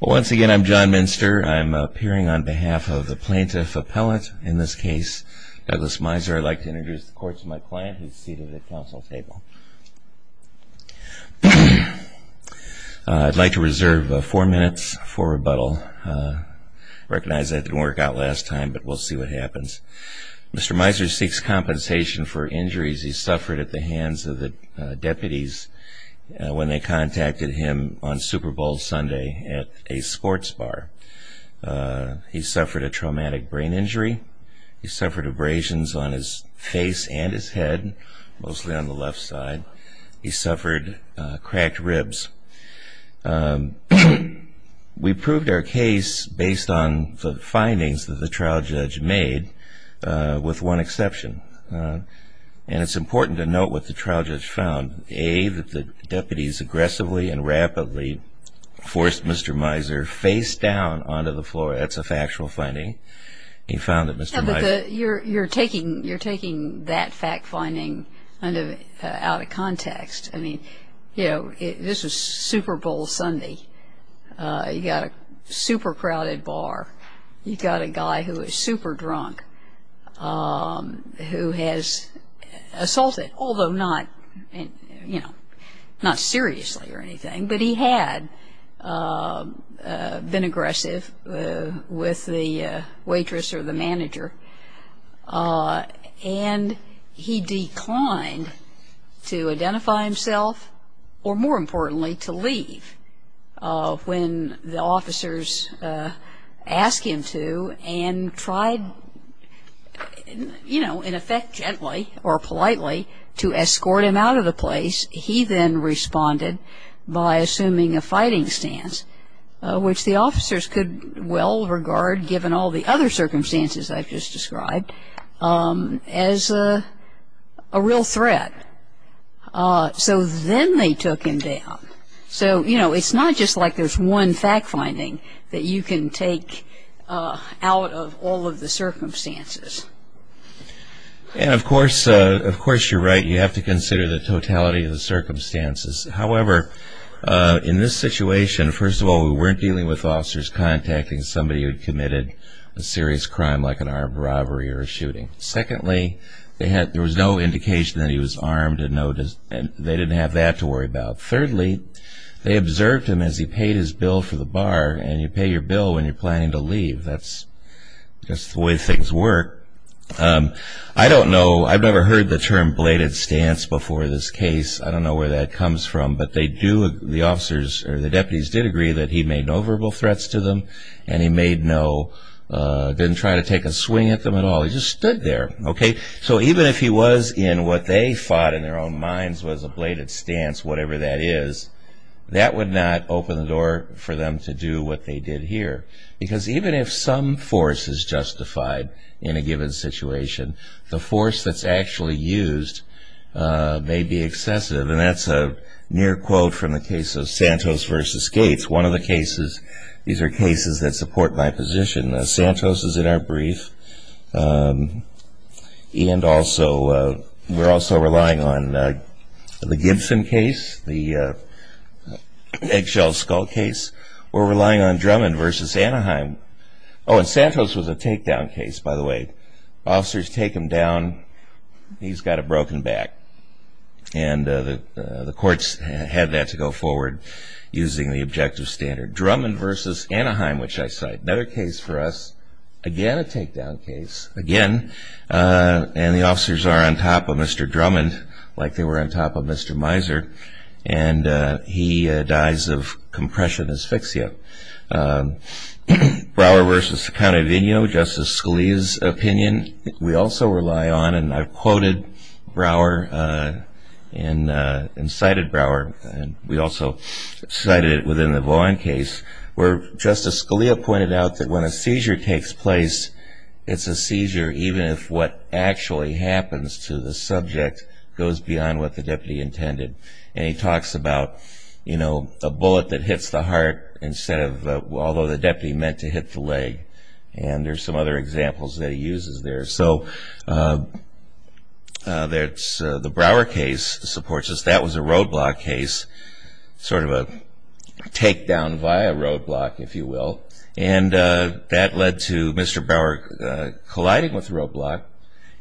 Well once again I'm John Minster. I'm appearing on behalf of the plaintiff appellate in this case Douglas Miser. I'd like to introduce the court to my client who's seated at council table. I'd like to reserve four minutes for rebuttal. I recognize I didn't work out last time but we'll see what happens. Mr. Miser seeks compensation for injuries he suffered at the hands of Super Bowl Sunday at a sports bar. He suffered a traumatic brain injury. He suffered abrasions on his face and his head, mostly on the left side. He suffered cracked ribs. We proved our case based on the findings that the trial judge made with one exception and it's important to note what the trial judge found. A, that he forced Mr. Miser face down onto the floor. That's a factual finding. He found that Mr. Miser... You're taking that fact finding out of context. I mean, you know, this was Super Bowl Sunday. You got a super crowded bar. You got a guy who was super drunk who has assaulted, although not, you know, not seriously or anything, but he had been aggressive with the waitress or the manager and he declined to identify himself or more importantly to leave when the officers asked him to and tried, you know, in effect gently or politely to escort him out of the place. He then responded by assuming a fighting stance, which the officers could well regard given all the other circumstances I've just described, as a real threat. So then they took him down. So, you know, it's not just like there's one fact finding that you can take out of all of the circumstances. And of course you're right. You have to consider the totality of the circumstances. However, in this situation, first of all, we weren't dealing with officers contacting somebody who had committed a serious crime like an armed robbery or a shooting. Secondly, there was no indication that he was armed and they didn't have that to worry about. Thirdly, they observed him as he paid his bill for the bar and you pay your bill when you're planning to leave. That's just the way things work. I don't know, I've never heard the term bladed stance before in this case. I don't know where that comes from, but they do, the officers or the deputies did agree that he made no verbal threats to them and he made no, didn't try to take a swing at them at all. He just stood there, okay? So even if he was in what they thought in their own minds was a force that's actually used may be excessive. And that's a near quote from the case of Santos versus Gates. One of the cases, these are cases that support my position. Santos is in our brief and also we're also relying on the Gibson case, the eggshell skull case. We're relying on Drummond versus Anaheim. Oh, and Santos was a takedown case, by the way. Officers take him down, he's got a broken back and the courts had that to go forward using the objective standard. Drummond versus Anaheim, which I cite. Another case for us, again a takedown case, again and the officers are on top of Mr. Drummond like they were on top of Mr. Miser and he dies of compression asphyxia. Brouwer versus County Vigno, Justice Scalia's opinion. We also rely on and I've quoted Brouwer and cited Brouwer and we also cited it within the Vaughan case where Justice Scalia pointed out that when a seizure takes place, it's a seizure even if what actually happens to the subject goes beyond what the deputy intended and he talks about, you know, a bullet that hits the heart instead of, although the deputy meant to hit the leg and there's some other examples that he uses there. So, the Brouwer case supports us. That was a roadblock case, sort of a takedown via roadblock, if you will, and that led to Mr. Brouwer colliding with the deputy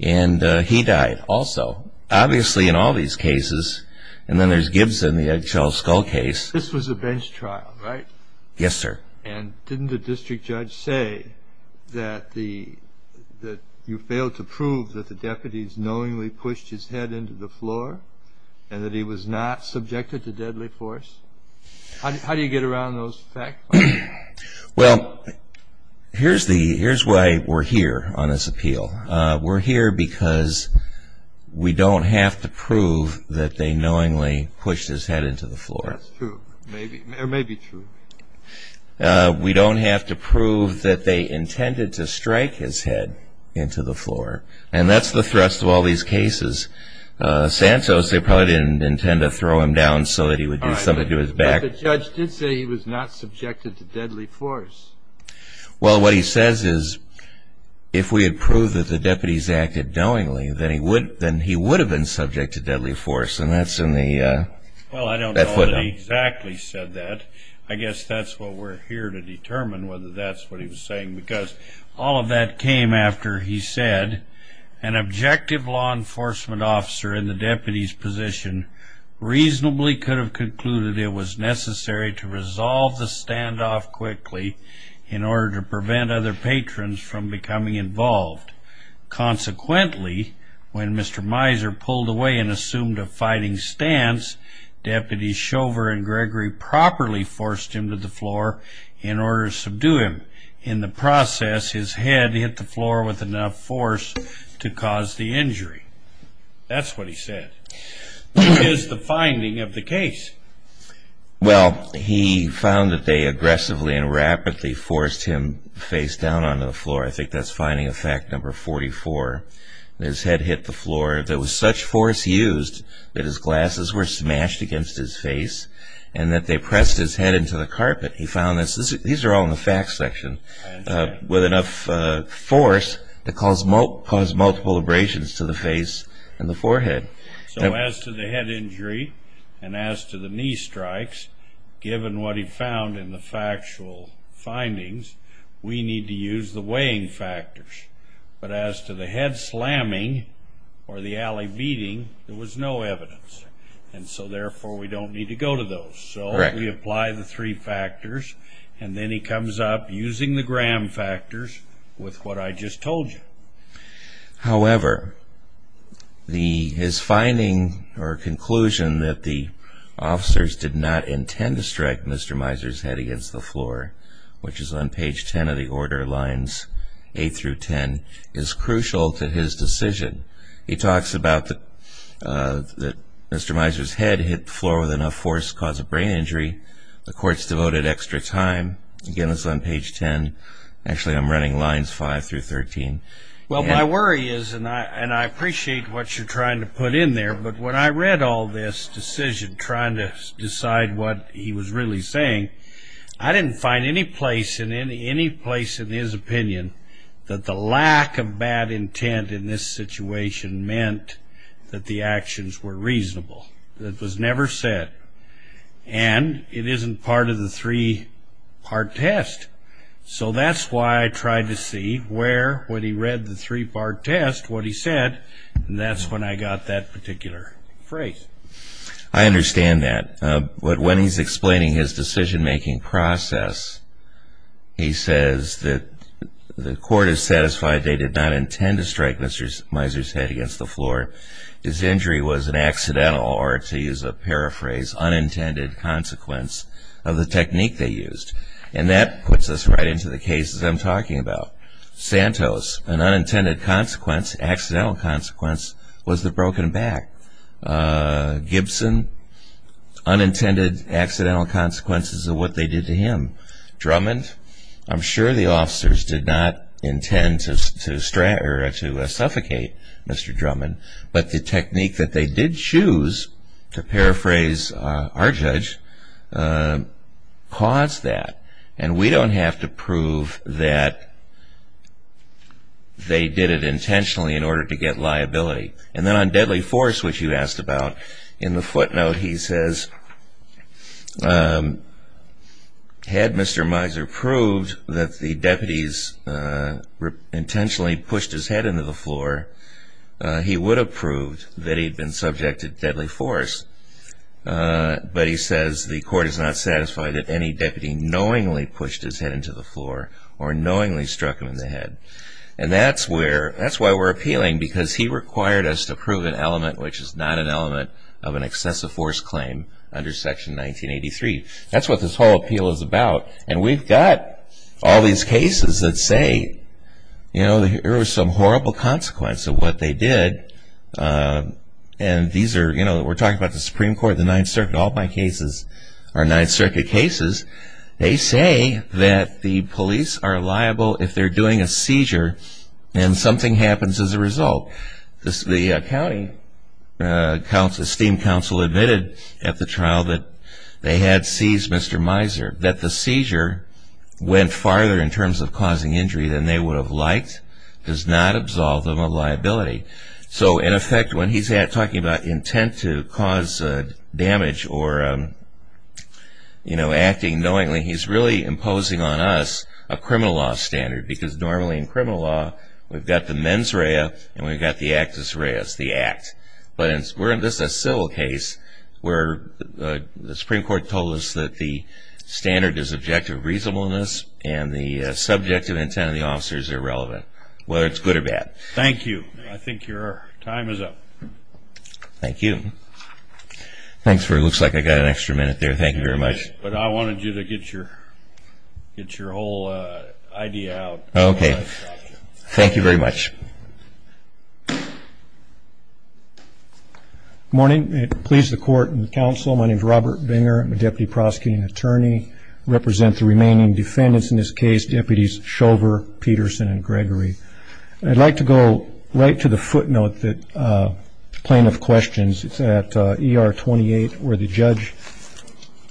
and he died also. Obviously, in all these cases, and then there's Gibson, the Eggshell Skull case. This was a bench trial, right? Yes, sir. And didn't the district judge say that you failed to prove that the deputies knowingly pushed his head into the floor and that he was not subjected to deadly force? How do you get around those facts? Well, here's why we're here on this appeal. We're here because we don't have to prove that they knowingly pushed his head into the floor. That's true. It may be true. We don't have to prove that they intended to strike his head into the floor and that's the thrust of all these cases. Santos, they probably didn't intend to throw him down so that he would do something to his back. The judge did say he was not subjected to deadly force. Well, what he says is if we had proved that the deputies acted knowingly, then he would have been subject to deadly force and that's in the footnote. Well, I don't know that he exactly said that. I guess that's what we're here to determine, whether that's what he was saying, because all of that came after he said an objective law enforcement officer in the deputy's position reasonably could have concluded it was necessary to resolve the standoff quickly in order to prevent other patrons from becoming involved. Consequently, when Mr. Miser pulled away and assumed a fighting stance, Deputy Shover and Gregory properly forced him to the floor in order to subdue him. In the process, his head hit the floor with enough force to cause the injury. That's what he said. What is the finding of the case? Well, he found that they aggressively and rapidly forced him face down onto the floor. I think that's finding of fact number 44. His head hit the floor. There was such force used that his glasses were smashed against his face and that they pressed his head into the carpet. He found this, these are all in the facts section, with enough force to cause multiple abrasions to the face and the forehead. So as to the head injury and as to the knee strikes, given what he found in the factual findings, we need to use the weighing factors. But as to the head slamming or the alley beating, there was no evidence. And so therefore, we don't need to go to those. So we apply the three factors and then he comes up using the gram factors with what I just told you. However, his finding or conclusion that the officers did not intend to strike Mr. Miser's head against the floor, which is on page 10 of the order lines 8 through 10, is crucial to his decision. He talks about that Mr. Miser's head hit the floor with enough force to cause a brain injury. The court's devoted extra time. Again, it's on page 10. Actually, I'm running lines 5 through 13. Well, my worry is, and I appreciate what you're trying to put in there, but when I read all this decision trying to decide what he was really saying, I didn't find any place in his opinion that the lack of bad intent in this situation meant that the actions were reasonable. That was never said. And it isn't part of the three-part test. So that's why I tried to see where, when he read the three-part test, what he said. And that's when I got that particular phrase. I understand that. But when he's explaining his decision-making process, he says that the court is satisfied they did not intend to strike Mr. Miser's head against the floor. His injury was an accidental or, to use a paraphrase, unintended consequence of the technique they used. And that puts us right into the cases I'm talking about. Santos, an unintended consequence, accidental consequence was the broken back. Gibson, unintended accidental consequences of what they did to him. Drummond, I'm sure the officers did not intend to suffocate Mr. Drummond. But the technique that they did choose, to paraphrase our judge, caused that. And we don't have to prove that they did it intentionally in order to get liability. And then on deadly force, which you asked about, in the footnote he says, had Mr. Miser proved that the deputies intentionally pushed his head into the floor, he would have proved that he'd been subject to deadly force. But he says the court is not satisfied that any deputy knowingly pushed his head into the floor or knowingly struck him in the head. And that's where, that's why we're appealing, because he required us to prove an element which is not an element of an excessive force claim under Section 1983. That's what this whole appeal is about. And we've got all these cases that say, you know, there was some horrible consequence of what they did. And these are, you know, we're talking about the Supreme Court, the Ninth Circuit, all my cases are Ninth Circuit cases. They say that the police are liable if they're doing a seizure and something happens as a result. The county esteemed counsel admitted at the trial that they had seized Mr. Miser, that the seizure went farther in terms of causing injury than they would have liked, does not absolve them of liability. So, in effect, when he's talking about intent to cause damage or, you know, acting knowingly, he's really imposing on us a criminal law standard. Because normally in criminal law, we've got the mens rea and we've got the actus rea. It's the act. But this is a civil case where the Supreme Court told us that the standard is objective reasonableness and the subjective intent of the officer is irrelevant, whether it's good or bad. Thank you. I think your time is up. Thank you. It looks like I've got an extra minute there. Thank you very much. But I wanted you to get your whole idea out. Okay. Thank you very much. Good morning. Please, the court and counsel, my name is Robert Binger. I'm a deputy prosecuting attorney. I represent the remaining defendants in this case, deputies Shover, Peterson, and Gregory. I'd like to go right to the footnote that plaintiff questions. It's at ER 28 where the judge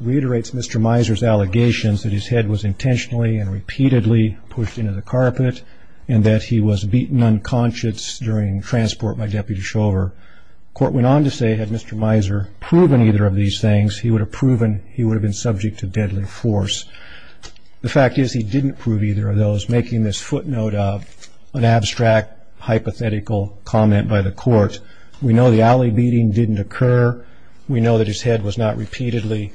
reiterates Mr. Miser's allegations that his head was intentionally and repeatedly pushed into the carpet and that he was beaten unconscious during transport by Deputy Shover. The court went on to say, had Mr. Miser proven either of these things, he would have proven he would have been subject to deadly force. The fact is he didn't prove either of those, making this footnote an abstract hypothetical comment by the court. We know the alley beating didn't occur. We know that his head was not repeatedly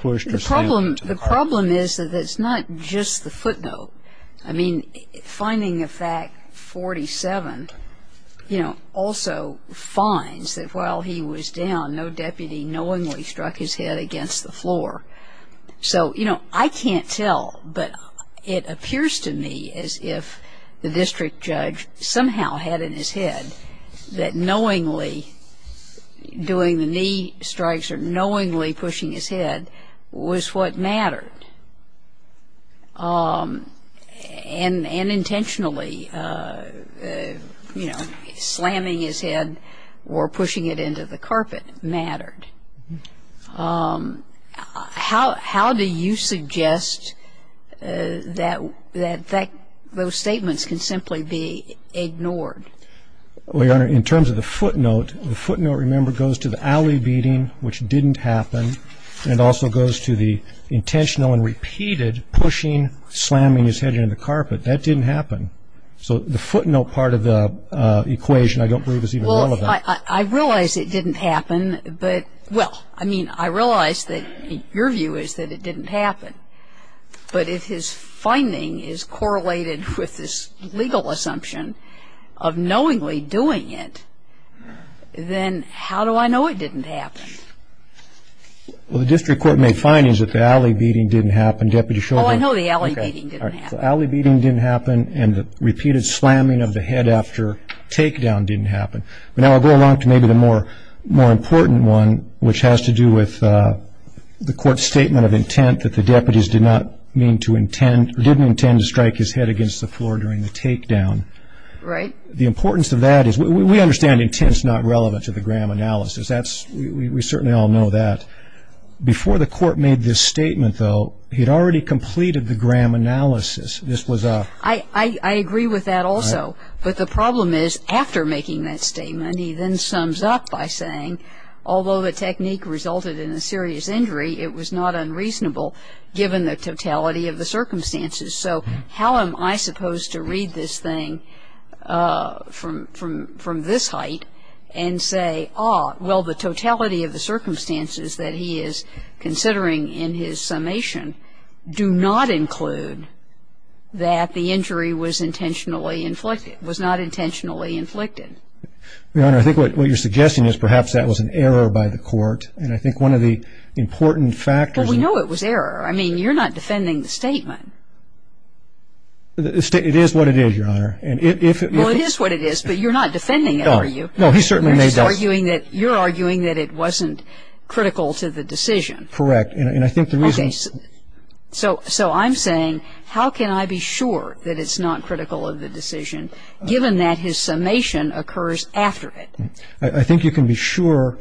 pushed or slammed into the carpet. The problem is that it's not just the footnote. I mean, finding a fact 47, you know, also finds that while he was down, no deputy knowingly struck his head against the floor. So, you know, I can't tell, but it appears to me as if the district judge somehow had in his head that knowingly doing the knee strikes or knowingly pushing his head was what mattered. And intentionally, you know, slamming his head or pushing it into the carpet mattered. How do you suggest that those statements can simply be ignored? Well, Your Honor, in terms of the footnote, the footnote, remember, goes to the alley beating, which didn't happen, and it also goes to the intentional and repeated pushing, slamming his head into the carpet. That didn't happen. So the footnote part of the equation I don't believe is even relevant. Well, I realize it didn't happen, but, well, I mean, I realize that your view is that it didn't happen. But if his finding is correlated with this legal assumption of knowingly doing it, then how do I know it didn't happen? Well, the district court made findings that the alley beating didn't happen. Oh, I know the alley beating didn't happen. The alley beating didn't happen, and the repeated slamming of the head after takedown didn't happen. But now I'll go along to maybe the more important one, which has to do with the court's statement of intent that the deputies did not mean to intend, or didn't intend to strike his head against the floor during the takedown. Right. The importance of that is, we understand intent is not relevant to the Graham analysis. We certainly all know that. Before the court made this statement, though, he'd already completed the Graham analysis. I agree with that also. But the problem is, after making that statement, he then sums up by saying, although the technique resulted in a serious injury, it was not unreasonable, given the totality of the circumstances. So how am I supposed to read this thing from this height and say, well, the totality of the circumstances that he is considering in his summation do not include that the injury was not intentionally inflicted? Your Honor, I think what you're suggesting is perhaps that was an error by the court. And I think one of the important factors... Well, we know it was error. I mean, you're not defending the statement. It is what it is, Your Honor. Well, it is what it is, but you're not defending it, are you? You're arguing that it wasn't critical to the decision. Correct. And I think the reason... So I'm saying, how can I be sure that it's not critical of the decision, given that his summation occurs after it? I think you can be sure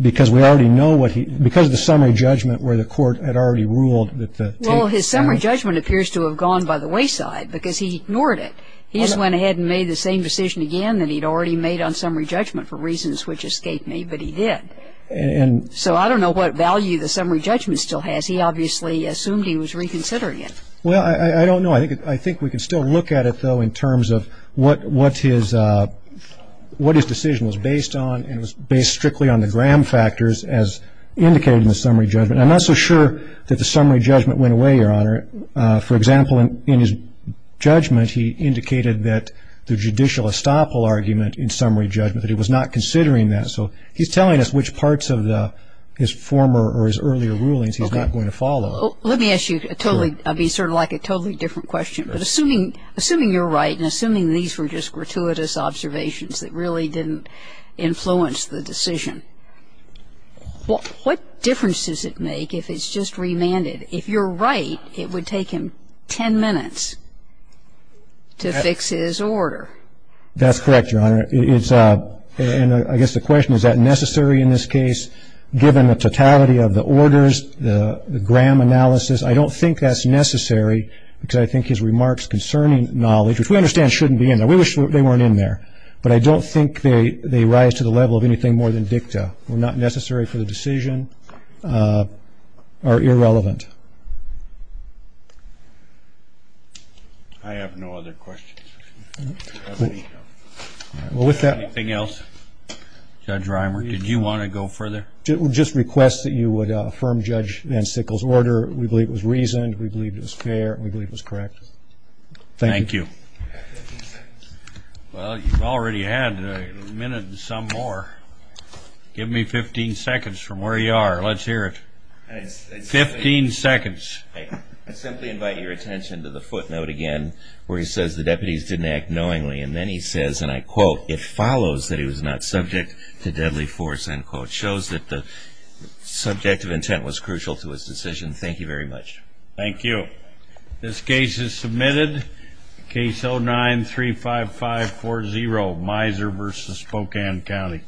because we already know what he... because of the summary judgment where the court had already ruled that the... Well, his summary judgment appears to have gone by the wayside because he ignored it. He just went ahead and made the same decision again that he'd already made on summary judgment for reasons which escaped me, but he did. And... So I don't know what value the summary judgment still has. He obviously assumed he was reconsidering it. Well, I don't know. I think we can still look at it, though, in terms of what his decision was based on and was based strictly on the Graham factors as indicated in the summary judgment. I'm not so sure that the summary judgment went away, Your Honor. For example, in his judgment, he indicated that the judicial estoppel argument in summary judgment, that he was not considering that. So he's telling us which parts of his former or his earlier rulings he's not going to follow. Let me ask you a totally... Sure. I mean, sort of like a totally different question, but assuming you're right and assuming these were just gratuitous observations that really didn't influence the decision, what difference does it make if it's just remanded? If you're right, it would take him ten minutes to fix his order. That's correct, Your Honor. It's... And I guess the question, is that necessary in this case, given the totality of the orders, the Graham analysis? I don't think that's necessary, because I think his remarks concerning knowledge, which we understand shouldn't be in there. We wish they weren't in there. But I don't think they rise to the level of anything more than dicta. They're not necessary for the decision or irrelevant. I have no other questions. Anything else? Judge Reimer, did you want to go further? Just request that you would affirm Judge Van Sickle's order. We believe it was reasoned. We believe it was fair. We believe it was correct. Thank you. Thank you. Well, you've already had a minute and some more. Give me 15 seconds from where you are. Let's hear it. 15 seconds. I simply invite your attention to the footnote again, where he says, the deputies didn't act knowingly. And then he says, and I quote, it follows that he was not subject to deadly force, end quote. Shows that the subject of intent was crucial to his decision. Thank you very much. Thank you. This case is submitted. Case 09-35540, Miser v. Spokane County.